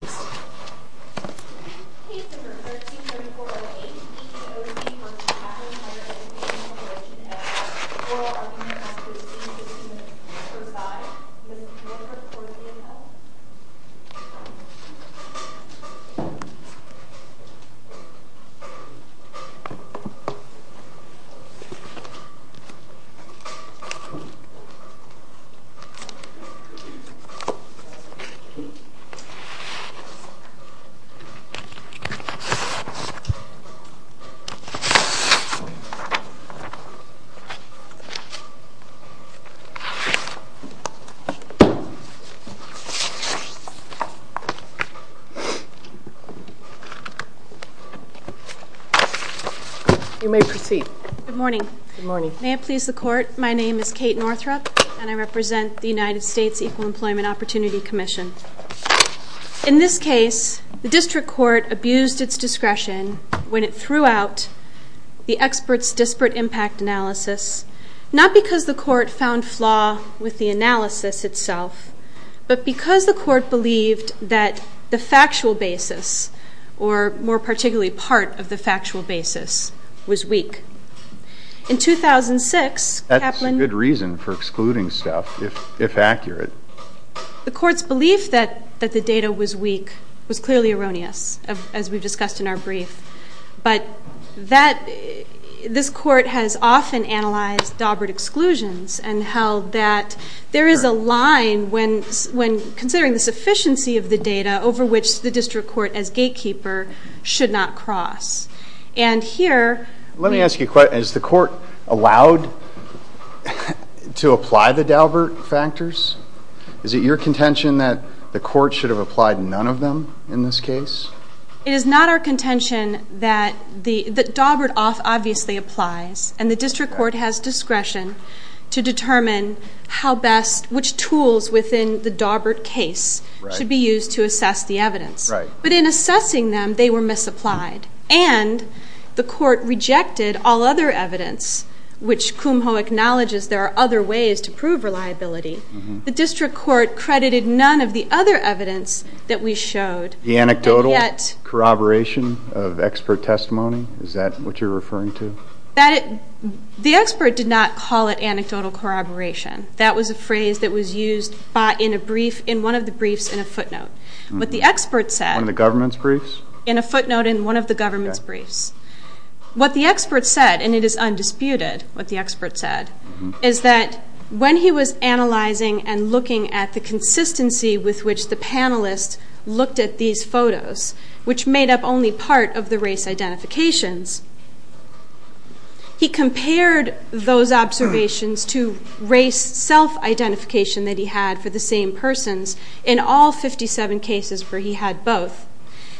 Page number 13348, EEOC v. Kaplan Higher Education Corporation at 4RHC 1525, Mr. Milford, 4ZNL Page number 14349, Ms. Gray, 4ZNL You may proceed. Good morning. Good morning. May it please the Court, my name is Kate Northrop and I represent the United States Equal Employment Opportunity Commission. In this case, the district court abused its discretion when it threw out the expert's disparate impact analysis, not because the court found flaw with the analysis itself, but because the court believed that the factual basis, or more particularly part of the factual basis, was weak. In 2006, Kaplan... That's a good reason for excluding stuff, if accurate. The court's belief that the data was weak was clearly erroneous, as we've discussed in our brief. But this court has often analyzed Daubert exclusions and held that there is a line when considering the sufficiency of the data over which the district court as gatekeeper should not cross. And here... Let me ask you a question. Is the court allowed to apply the Daubert factors? Is it your contention that the court should have applied none of them in this case? It is not our contention that Daubert obviously applies and the district court has discretion to determine how best, which tools within the Daubert case should be used to assess the evidence. But in assessing them, they were misapplied. And the court rejected all other evidence, which Kumho acknowledges there are other ways to prove reliability. The district court credited none of the other evidence that we showed. The anecdotal corroboration of expert testimony? Is that what you're referring to? The expert did not call it anecdotal corroboration. That was a phrase that was used in one of the briefs in a footnote. But the expert said... One of the government's briefs? In a footnote in one of the government's briefs. What the expert said, and it is undisputed what the expert said, is that when he was analyzing and looking at the consistency with which the panelists looked at these photos, which made up only part of the race identifications, he compared those observations to race self-identification that he had for the same persons in all 57 cases where he had both,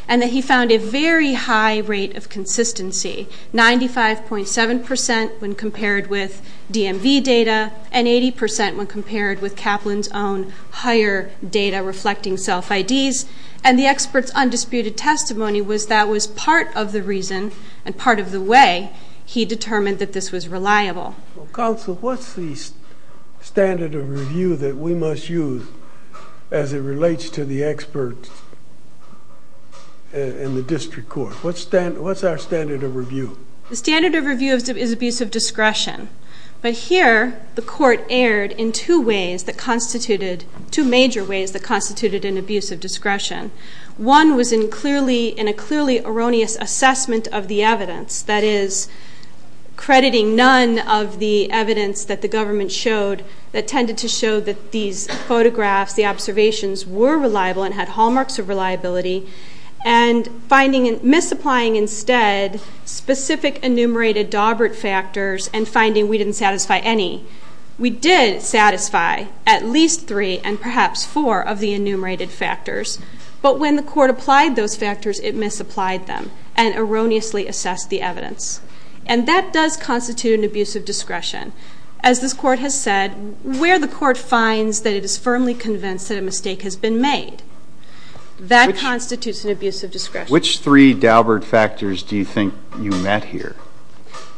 and that he found a very high rate of consistency, 95.7% when compared with DMV data and 80% when compared with Kaplan's own higher data reflecting self IDs. And the expert's undisputed testimony was that was part of the reason and part of the way he determined that this was reliable. Counsel, what's the standard of review that we must use as it relates to the expert and the district court? What's our standard of review? The standard of review is abuse of discretion. But here the court erred in two ways that constituted, two major ways that constituted an abuse of discretion. One was in a clearly erroneous assessment of the evidence, that is, crediting none of the evidence that the government showed that tended to show that these photographs, the observations, were reliable and had hallmarks of reliability, and finding and misapplying instead specific enumerated Daubert factors and finding we didn't satisfy any. We did satisfy at least three and perhaps four of the enumerated factors. But when the court applied those factors, it misapplied them and erroneously assessed the evidence. And that does constitute an abuse of discretion. As this court has said, where the court finds that it is firmly convinced that a mistake has been made, that constitutes an abuse of discretion. Which three Daubert factors do you think you met here?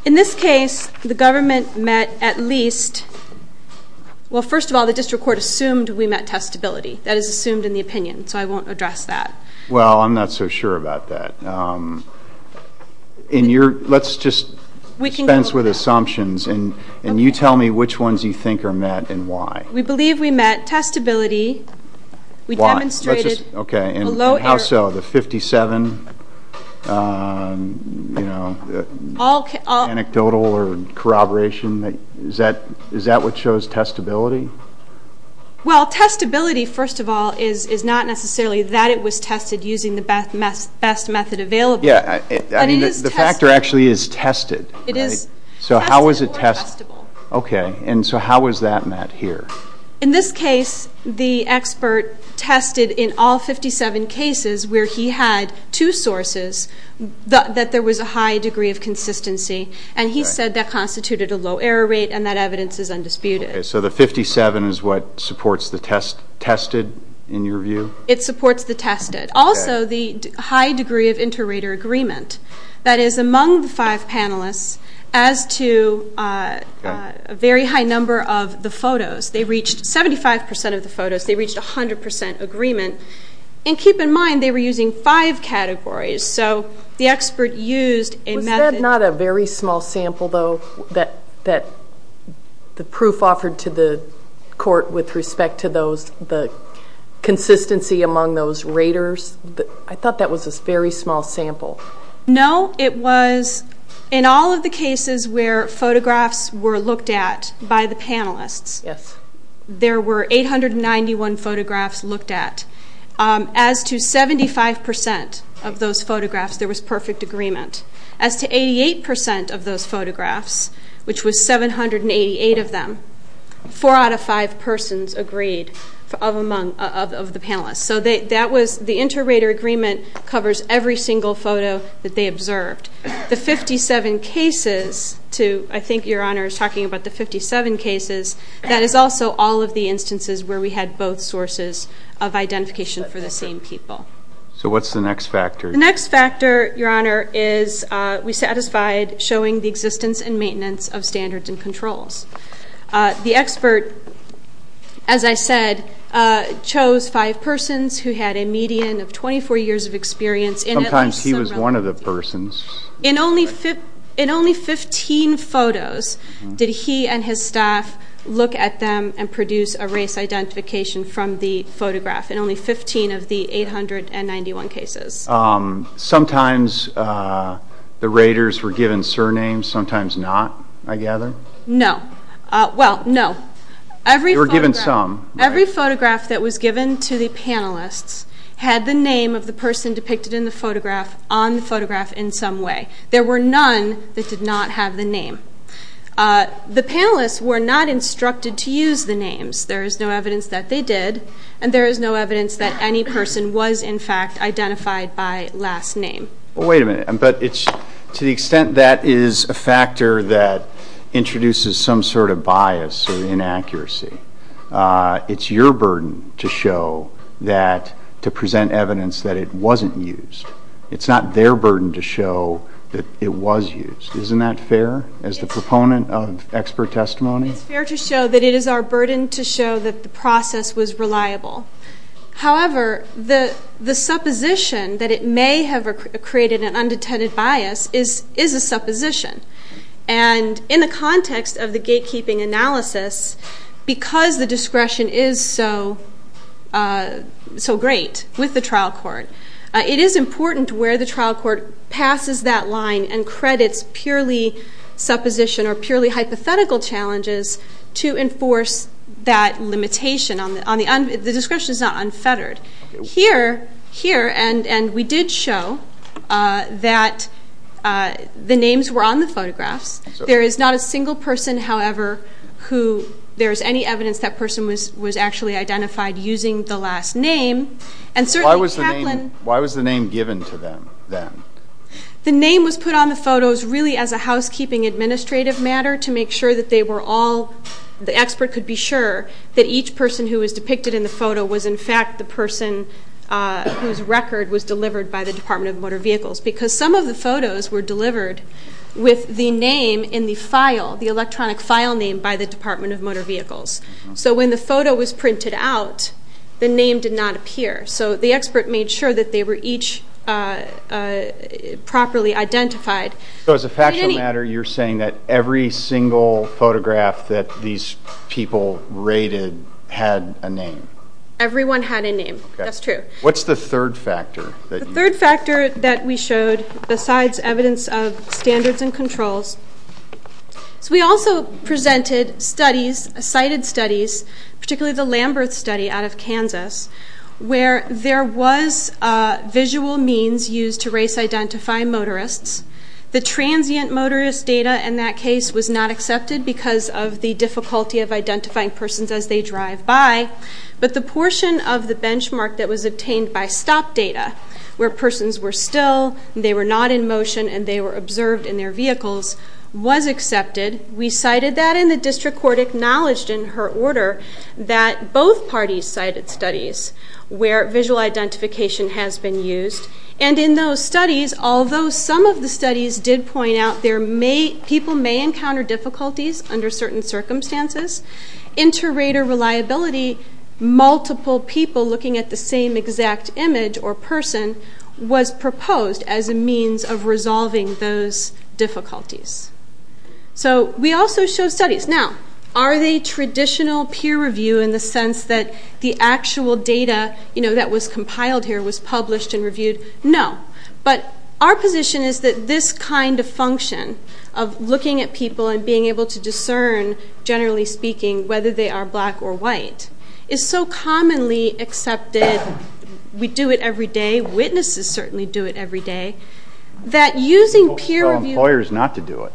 In this case, the government met at least, well, first of all, the district court assumed we met testability. That is assumed in the opinion, so I won't address that. Well, I'm not so sure about that. Let's just dispense with assumptions. And you tell me which ones you think are met and why. We believe we met testability. Why? How so? The 57, you know, anecdotal or corroboration? Is that what shows testability? Well, testability, first of all, is not necessarily that it was tested using the best method available. Yeah, I mean, the factor actually is tested. It is tested or testable. Okay. And so how was that met here? In this case, the expert tested in all 57 cases where he had two sources that there was a high degree of consistency. And he said that constituted a low error rate and that evidence is undisputed. So the 57 is what supports the tested in your view? It supports the tested. Also, the high degree of inter-rater agreement. That is, among the five panelists, as to a very high number of the photos, they reached 75% of the photos. They reached 100% agreement. And keep in mind, they were using five categories. So the expert used a method. Was that not a very small sample, though, that the proof offered to the court with respect to the consistency among those raters? I thought that was a very small sample. No, it was in all of the cases where photographs were looked at by the panelists. Yes. There were 891 photographs looked at. As to 75% of those photographs, there was perfect agreement. As to 88% of those photographs, which was 788 of them, four out of five persons agreed of the panelists. So the inter-rater agreement covers every single photo that they observed. The 57 cases, I think Your Honor is talking about the 57 cases, that is also all of the instances where we had both sources of identification for the same people. So what's the next factor? The next factor, Your Honor, is we satisfied showing the existence and maintenance of standards and controls. The expert, as I said, chose five persons who had a median of 24 years of experience. Sometimes he was one of the persons. In only 15 photos did he and his staff look at them and produce a race identification from the photograph in only 15 of the 891 cases. Sometimes the raters were given surnames, sometimes not, I gather. No. Well, no. They were given some. Every photograph that was given to the panelists had the name of the person depicted in the photograph on the photograph in some way. There were none that did not have the name. The panelists were not instructed to use the names. There is no evidence that they did, and there is no evidence that any person was, in fact, identified by last name. Well, wait a minute. To the extent that is a factor that introduces some sort of bias or inaccuracy, it's your burden to present evidence that it wasn't used. It's not their burden to show that it was used. Isn't that fair as the proponent of expert testimony? It's fair to show that it is our burden to show that the process was reliable. However, the supposition that it may have created an undetended bias is a supposition. And in the context of the gatekeeping analysis, because the discretion is so great with the trial court, it is important where the trial court passes that line and credits purely supposition or purely hypothetical challenges to enforce that limitation. The discretion is not unfettered. Here, and we did show that the names were on the photographs. There is not a single person, however, who there is any evidence that person was actually identified using the last name. Why was the name given to them then? The name was put on the photos really as a housekeeping administrative matter to make sure that they were all, the expert could be sure that each person who was depicted in the photo was in fact the person whose record was delivered by the Department of Motor Vehicles because some of the photos were delivered with the name in the file, the electronic file name by the Department of Motor Vehicles. So when the photo was printed out, the name did not appear. So the expert made sure that they were each properly identified. So as a factual matter, you're saying that every single photograph that these people rated had a name? Everyone had a name. That's true. What's the third factor? The third factor that we showed besides evidence of standards and controls, so we also presented studies, cited studies, particularly the Lamberth study out of Kansas where there was visual means used to race identify motorists. The transient motorist data in that case was not accepted because of the difficulty of identifying persons as they drive by, but the portion of the benchmark that was obtained by stop data where persons were still, they were not in motion, and they were observed in their vehicles was accepted. We cited that, and the district court acknowledged in her order that both parties cited studies where visual identification has been used. And in those studies, although some of the studies did point out people may encounter difficulties under certain circumstances, inter-rater reliability, multiple people looking at the same exact image or person, was proposed as a means of resolving those difficulties. So we also showed studies. Now, are they traditional peer review in the sense that the actual data that was compiled here was published and reviewed? No. But our position is that this kind of function of looking at people and being able to discern, generally speaking, whether they are black or white, is so commonly accepted, we do it every day, witnesses certainly do it every day, that using peer review... We don't tell employers not to do it.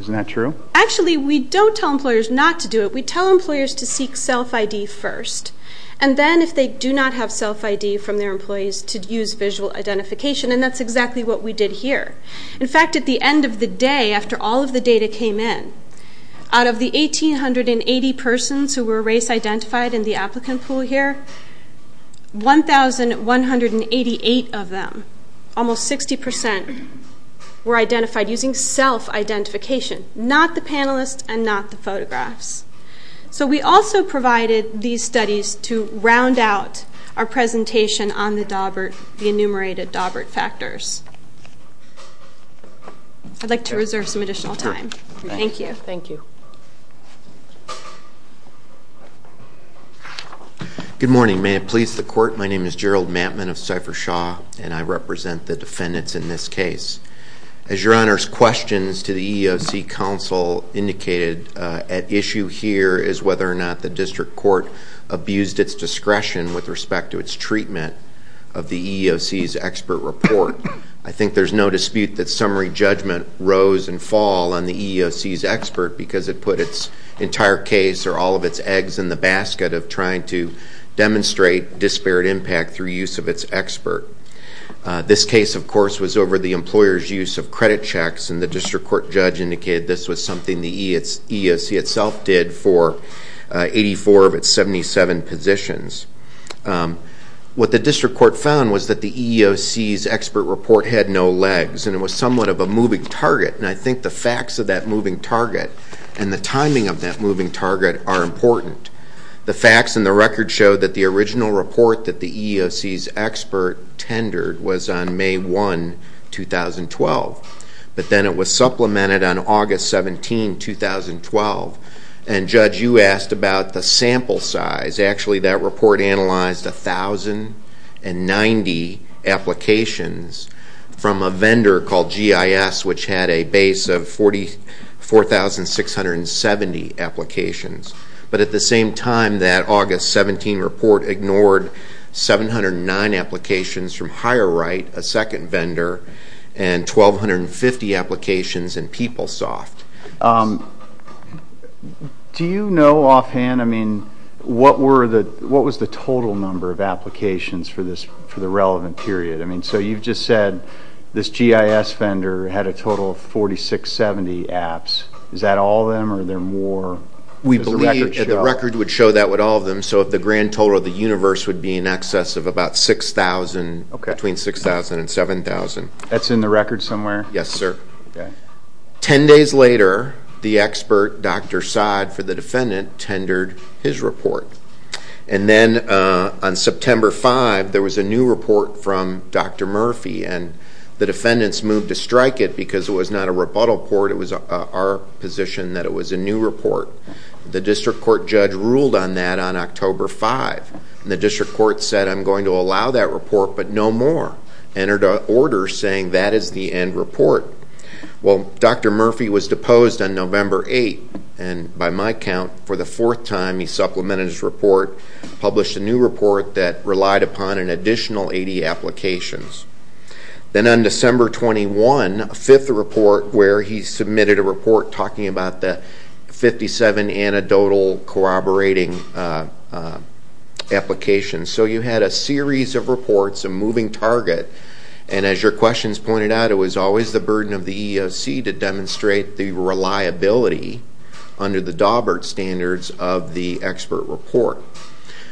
Isn't that true? Actually, we don't tell employers not to do it. We tell employers to seek self-ID first. And then if they do not have self-ID from their employees, to use visual identification. And that's exactly what we did here. In fact, at the end of the day, after all of the data came in, out of the 1,880 persons who were race-identified in the applicant pool here, 1,188 of them, almost 60%, were identified using self-identification. Not the panelists and not the photographs. So we also provided these studies to round out our presentation on the enumerated Dawbert factors. I'd like to reserve some additional time. Thank you. Thank you. Good morning. May it please the Court, my name is Gerald Matman of Cypher-Shaw, and I represent the defendants in this case. As Your Honor's questions to the EEOC counsel indicated, at issue here is whether or not the district court abused its discretion with respect to its treatment of the EEOC's expert report. I think there's no dispute that summary judgment rose and fall on the EEOC's expert because it put its entire case or all of its eggs in the basket of trying to demonstrate disparate impact through use of its expert. This case, of course, was over the employer's use of credit checks, and the district court judge indicated this was something the EEOC itself did for 84 of its 77 positions. What the district court found was that the EEOC's expert report had no legs, and it was somewhat of a moving target, and I think the facts of that moving target and the timing of that moving target are important. The facts in the record show that the original report that the EEOC's expert tendered was on May 1, 2012, but then it was supplemented on August 17, 2012, and Judge, you asked about the sample size. Actually, that report analyzed 1,090 applications from a vendor called GIS, which had a base of 44,670 applications. But at the same time, that August 17 report ignored 709 applications from Higher Right, a second vendor, and 1,250 applications in PeopleSoft. Do you know offhand, I mean, what was the total number of applications for the relevant period? I mean, so you've just said this GIS vendor had a total of 4670 apps. Is that all of them, or are there more? We believe the record would show that with all of them, so if the grand total of the universe would be in excess of about 6,000, between 6,000 and 7,000. That's in the record somewhere? Yes, sir. Ten days later, the expert, Dr. Saad, for the defendant, tendered his report. And then on September 5, there was a new report from Dr. Murphy, and the defendants moved to strike it because it was not a rebuttal report. It was our position that it was a new report. The district court judge ruled on that on October 5, and the district court said, I'm going to allow that report, but no more. Entered an order saying that is the end report. Well, Dr. Murphy was deposed on November 8, and by my count, for the fourth time he supplemented his report, published a new report that relied upon an additional 80 applications. Then on December 21, a fifth report where he submitted a report talking about the 57 anecdotal corroborating applications. So you had a series of reports, a moving target, and as your questions pointed out, it was always the burden of the EEOC to demonstrate the reliability under the Daubert standards of the expert report.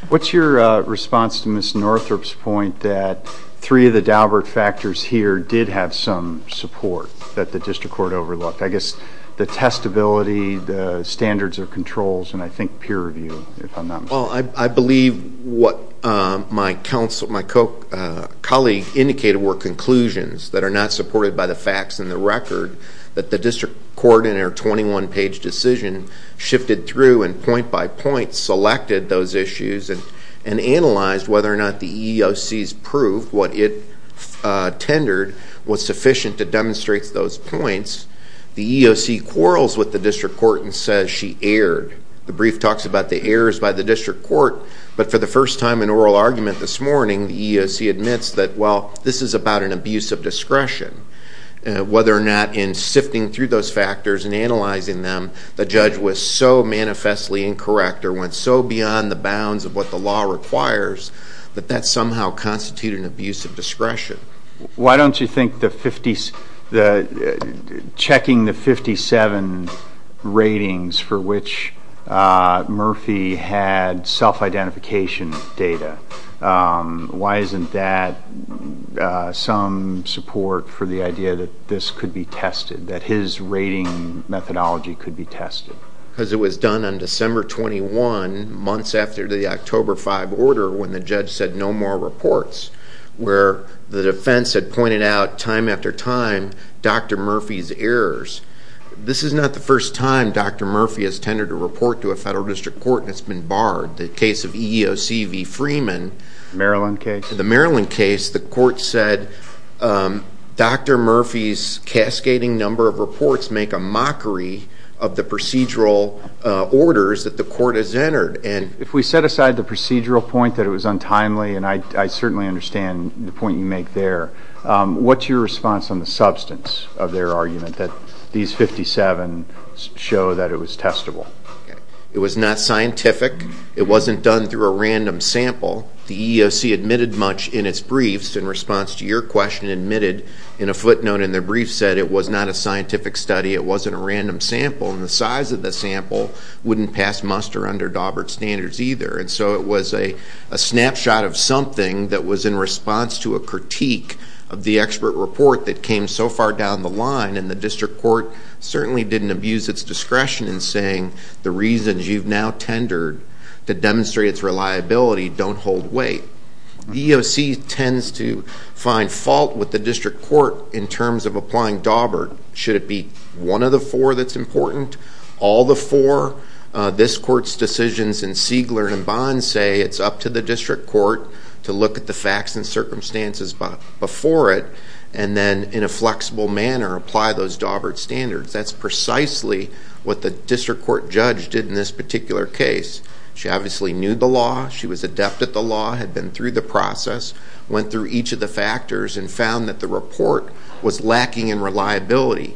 What's your response to Ms. Northrup's point that three of the Daubert factors here did have some support that the district court overlooked? I guess the testability, the standards of controls, and I think peer review, if I'm not mistaken. Well, I believe what my colleague indicated were conclusions that are not supported by the facts in the record that the district court in her 21-page decision shifted through and point by point selected those issues and analyzed whether or not the EEOC's proof, what it tendered, was sufficient to demonstrate those points. The EEOC quarrels with the district court and says she erred. The brief talks about the errors by the district court, but for the first time in oral argument this morning, the EEOC admits that, well, this is about an abuse of discretion, whether or not in sifting through those factors and analyzing them, the judge was so manifestly incorrect or went so beyond the bounds of what the law requires that that somehow constituted an abuse of discretion. Why don't you think checking the 57 ratings for which Murphy had self-identification data, why isn't that some support for the idea that this could be tested, that his rating methodology could be tested? Because it was done on December 21, months after the October 5 order, when the judge said no more reports, where the defense had pointed out time after time Dr. Murphy's errors. This is not the first time Dr. Murphy has tendered a report to a federal district court and it's been barred. The case of EEOC v. Freeman... The Maryland case. The Maryland case, the court said Dr. Murphy's cascading number of reports make a mockery of the procedural orders that the court has entered. If we set aside the procedural point that it was untimely, and I certainly understand the point you make there, what's your response on the substance of their argument that these 57 show that it was testable? It was not scientific. It wasn't done through a random sample. The EEOC admitted much in its briefs. In response to your question, admitted in a footnote in their brief said it was not a scientific study, it wasn't a random sample, and the size of the sample wouldn't pass muster under Daubert standards either. And so it was a snapshot of something that was in response to a critique of the expert report that came so far down the line, and the district court certainly didn't abuse its discretion in saying the reasons you've now tendered to demonstrate its reliability don't hold weight. The EEOC tends to find fault with the district court in terms of applying Daubert. Should it be one of the four that's important? All the four. This court's decisions in Siegler and Bond say it's up to the district court to look at the facts and circumstances before it and then in a flexible manner apply those Daubert standards. That's precisely what the district court judge did in this particular case. She obviously knew the law. She was adept at the law, had been through the process, went through each of the factors, and found that the report was lacking in reliability.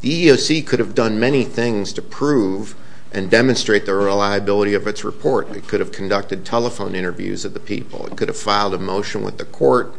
The EEOC could have done many things to prove and demonstrate the reliability of its report. It could have conducted telephone interviews of the people. It could have filed a motion with the court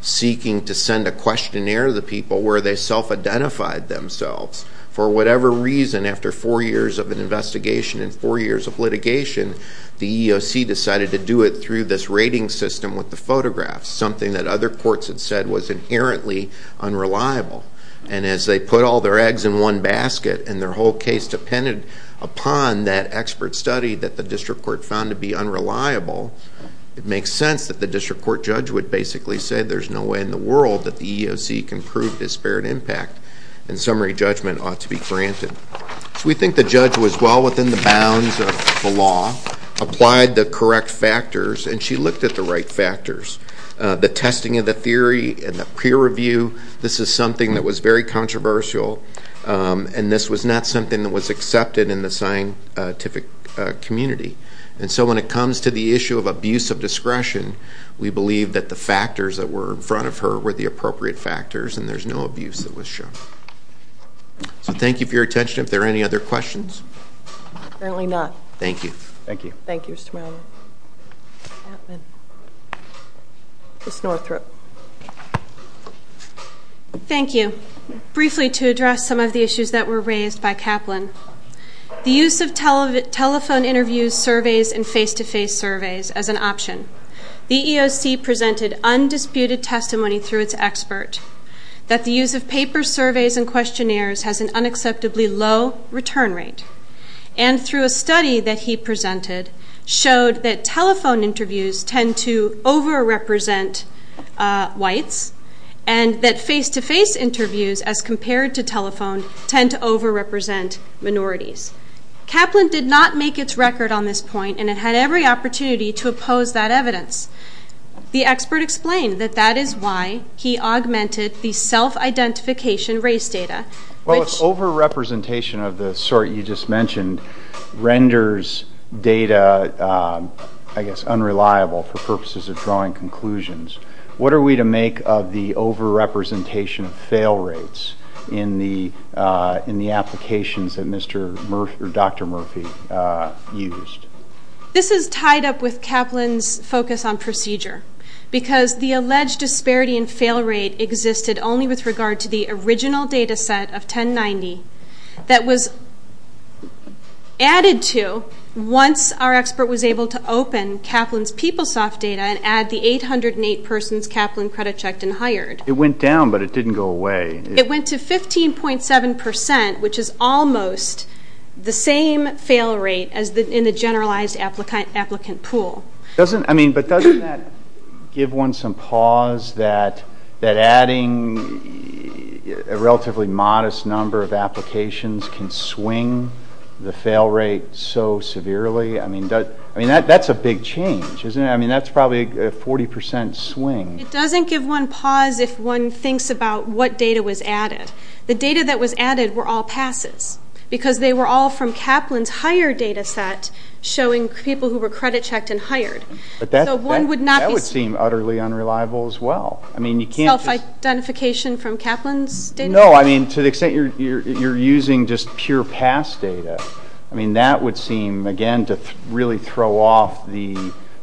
seeking to send a questionnaire to the people where they self-identified themselves. For whatever reason, after four years of an investigation and four years of litigation, the EEOC decided to do it through this rating system with the photographs, something that other courts had said was inherently unreliable. And as they put all their eggs in one basket and their whole case depended upon that expert study that the district court found to be unreliable, it makes sense that the district court judge would basically say there's no way in the world that the EEOC can prove disparate impact and summary judgment ought to be granted. So we think the judge was well within the bounds of the law, applied the correct factors, and she looked at the right factors. The testing of the theory and the peer review, this is something that was very controversial, and this was not something that was accepted in the scientific community. And so when it comes to the issue of abuse of discretion, we believe that the factors that were in front of her were the appropriate factors and there's no abuse that was shown. So thank you for your attention. If there are any other questions? Apparently not. Thank you. Thank you. Thank you, Mr. Milner. Ms. Northrop. Thank you. Briefly to address some of the issues that were raised by Kaplan, the use of telephone interviews, surveys, and face-to-face surveys as an option. The EEOC presented undisputed testimony through its expert that the use of papers, surveys, and questionnaires has an unacceptably low return rate. And through a study that he presented, showed that telephone interviews tend to over-represent whites and that face-to-face interviews as compared to telephone tend to over-represent minorities. Kaplan did not make its record on this point, and it had every opportunity to oppose that evidence. The expert explained that that is why he augmented the self-identification race data. Well, if over-representation of the sort you just mentioned renders data, I guess, unreliable for purposes of drawing conclusions, what are we to make of the over-representation of fail rates in the applications that Dr. Murphy used? This is tied up with Kaplan's focus on procedure because the alleged disparity in fail rate existed only with regard to the original data set of 1090 that was added to once our expert was able to open Kaplan's PeopleSoft data and add the 808 persons Kaplan credit-checked and hired. It went down, but it didn't go away. It went to 15.7%, which is almost the same fail rate in the generalized applicant pool. But doesn't that give one some pause that adding a relatively modest number of applications can swing the fail rate so severely? I mean, that's a big change, isn't it? I mean, that's probably a 40% swing. It doesn't give one pause if one thinks about what data was added. The data that was added were all passes because they were all from Kaplan's hire data set showing people who were credit-checked and hired. But that would seem utterly unreliable as well. Self-identification from Kaplan's data? No, I mean, to the extent you're using just pure pass data, I mean, that would seem, again, to really throw off the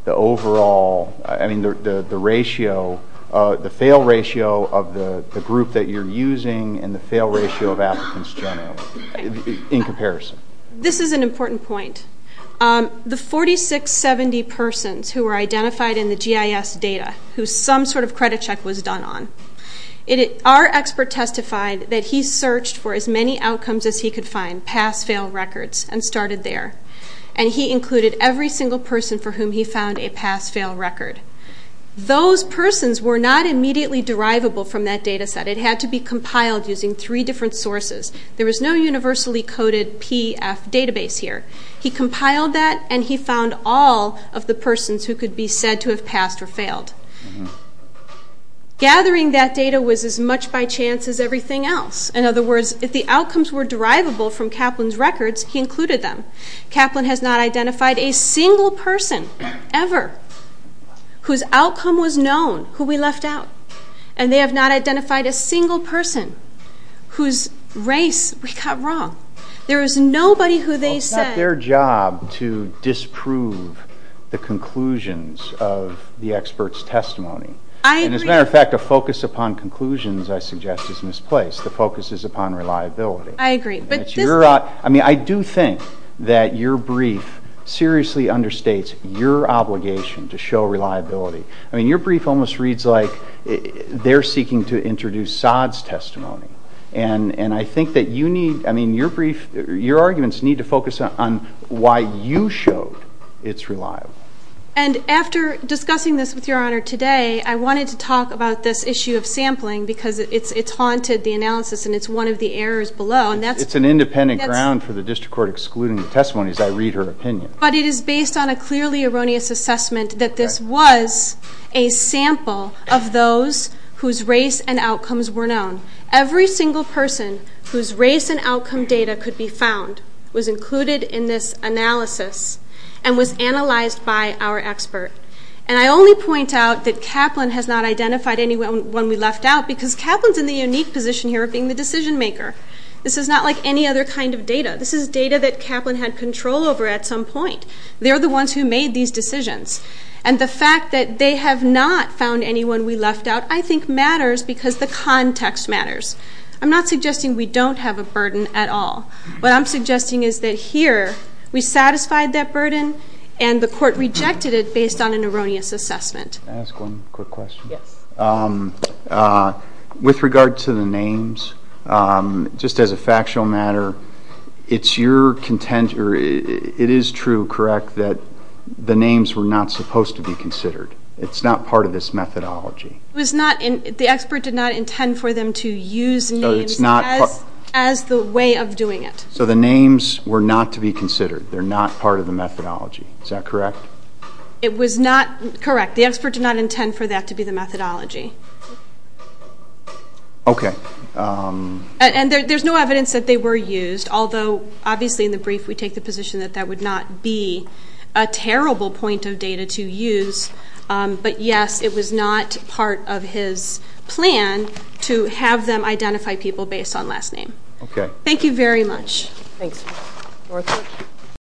overall, I mean, the ratio, the fail ratio of the group that you're using and the fail ratio of applicants generally in comparison. This is an important point. The 4670 persons who were identified in the GIS data who some sort of credit check was done on, our expert testified that he searched for as many outcomes as he could find, pass-fail records, and started there. And he included every single person for whom he found a pass-fail record. Those persons were not immediately derivable from that data set. It had to be compiled using three different sources. There was no universally coded PF database here. He compiled that, and he found all of the persons who could be said to have passed or failed. Gathering that data was as much by chance as everything else. In other words, if the outcomes were derivable from Kaplan's records, he included them. Kaplan has not identified a single person ever whose outcome was known who we left out. And they have not identified a single person whose race we got wrong. There was nobody who they said... And as a matter of fact, a focus upon conclusions, I suggest, is misplaced. The focus is upon reliability. I do think that your brief seriously understates your obligation to show reliability. I mean, your brief almost reads like they're seeking to introduce Saad's testimony. And I think that you need, I mean, your brief, your arguments need to focus on why you showed it's reliable. And after discussing this with your Honor today, I wanted to talk about this issue of sampling because it's haunted the analysis, and it's one of the errors below. It's an independent ground for the district court excluding the testimony as I read her opinion. But it is based on a clearly erroneous assessment that this was a sample of those whose race and outcomes were known. Every single person whose race and outcome data could be found was included in this analysis and was analyzed by our expert. And I only point out that Kaplan has not identified anyone we left out because Kaplan's in the unique position here of being the decision maker. This is not like any other kind of data. This is data that Kaplan had control over at some point. They're the ones who made these decisions. And the fact that they have not found anyone we left out, I think, matters because the context matters. I'm not suggesting we don't have a burden at all. What I'm suggesting is that here we satisfied that burden, and the court rejected it based on an erroneous assessment. Can I ask one quick question? Yes. With regard to the names, just as a factual matter, it is true, correct, that the names were not supposed to be considered. It's not part of this methodology. The expert did not intend for them to use names as the way of doing it. So the names were not to be considered. They're not part of the methodology. Is that correct? It was not correct. The expert did not intend for that to be the methodology. Okay. And there's no evidence that they were used, although obviously in the brief we take the position that that would not be a terrible point of data to use. But, yes, it was not part of his plan to have them identify people based on last name. Okay. Thank you very much. Thanks.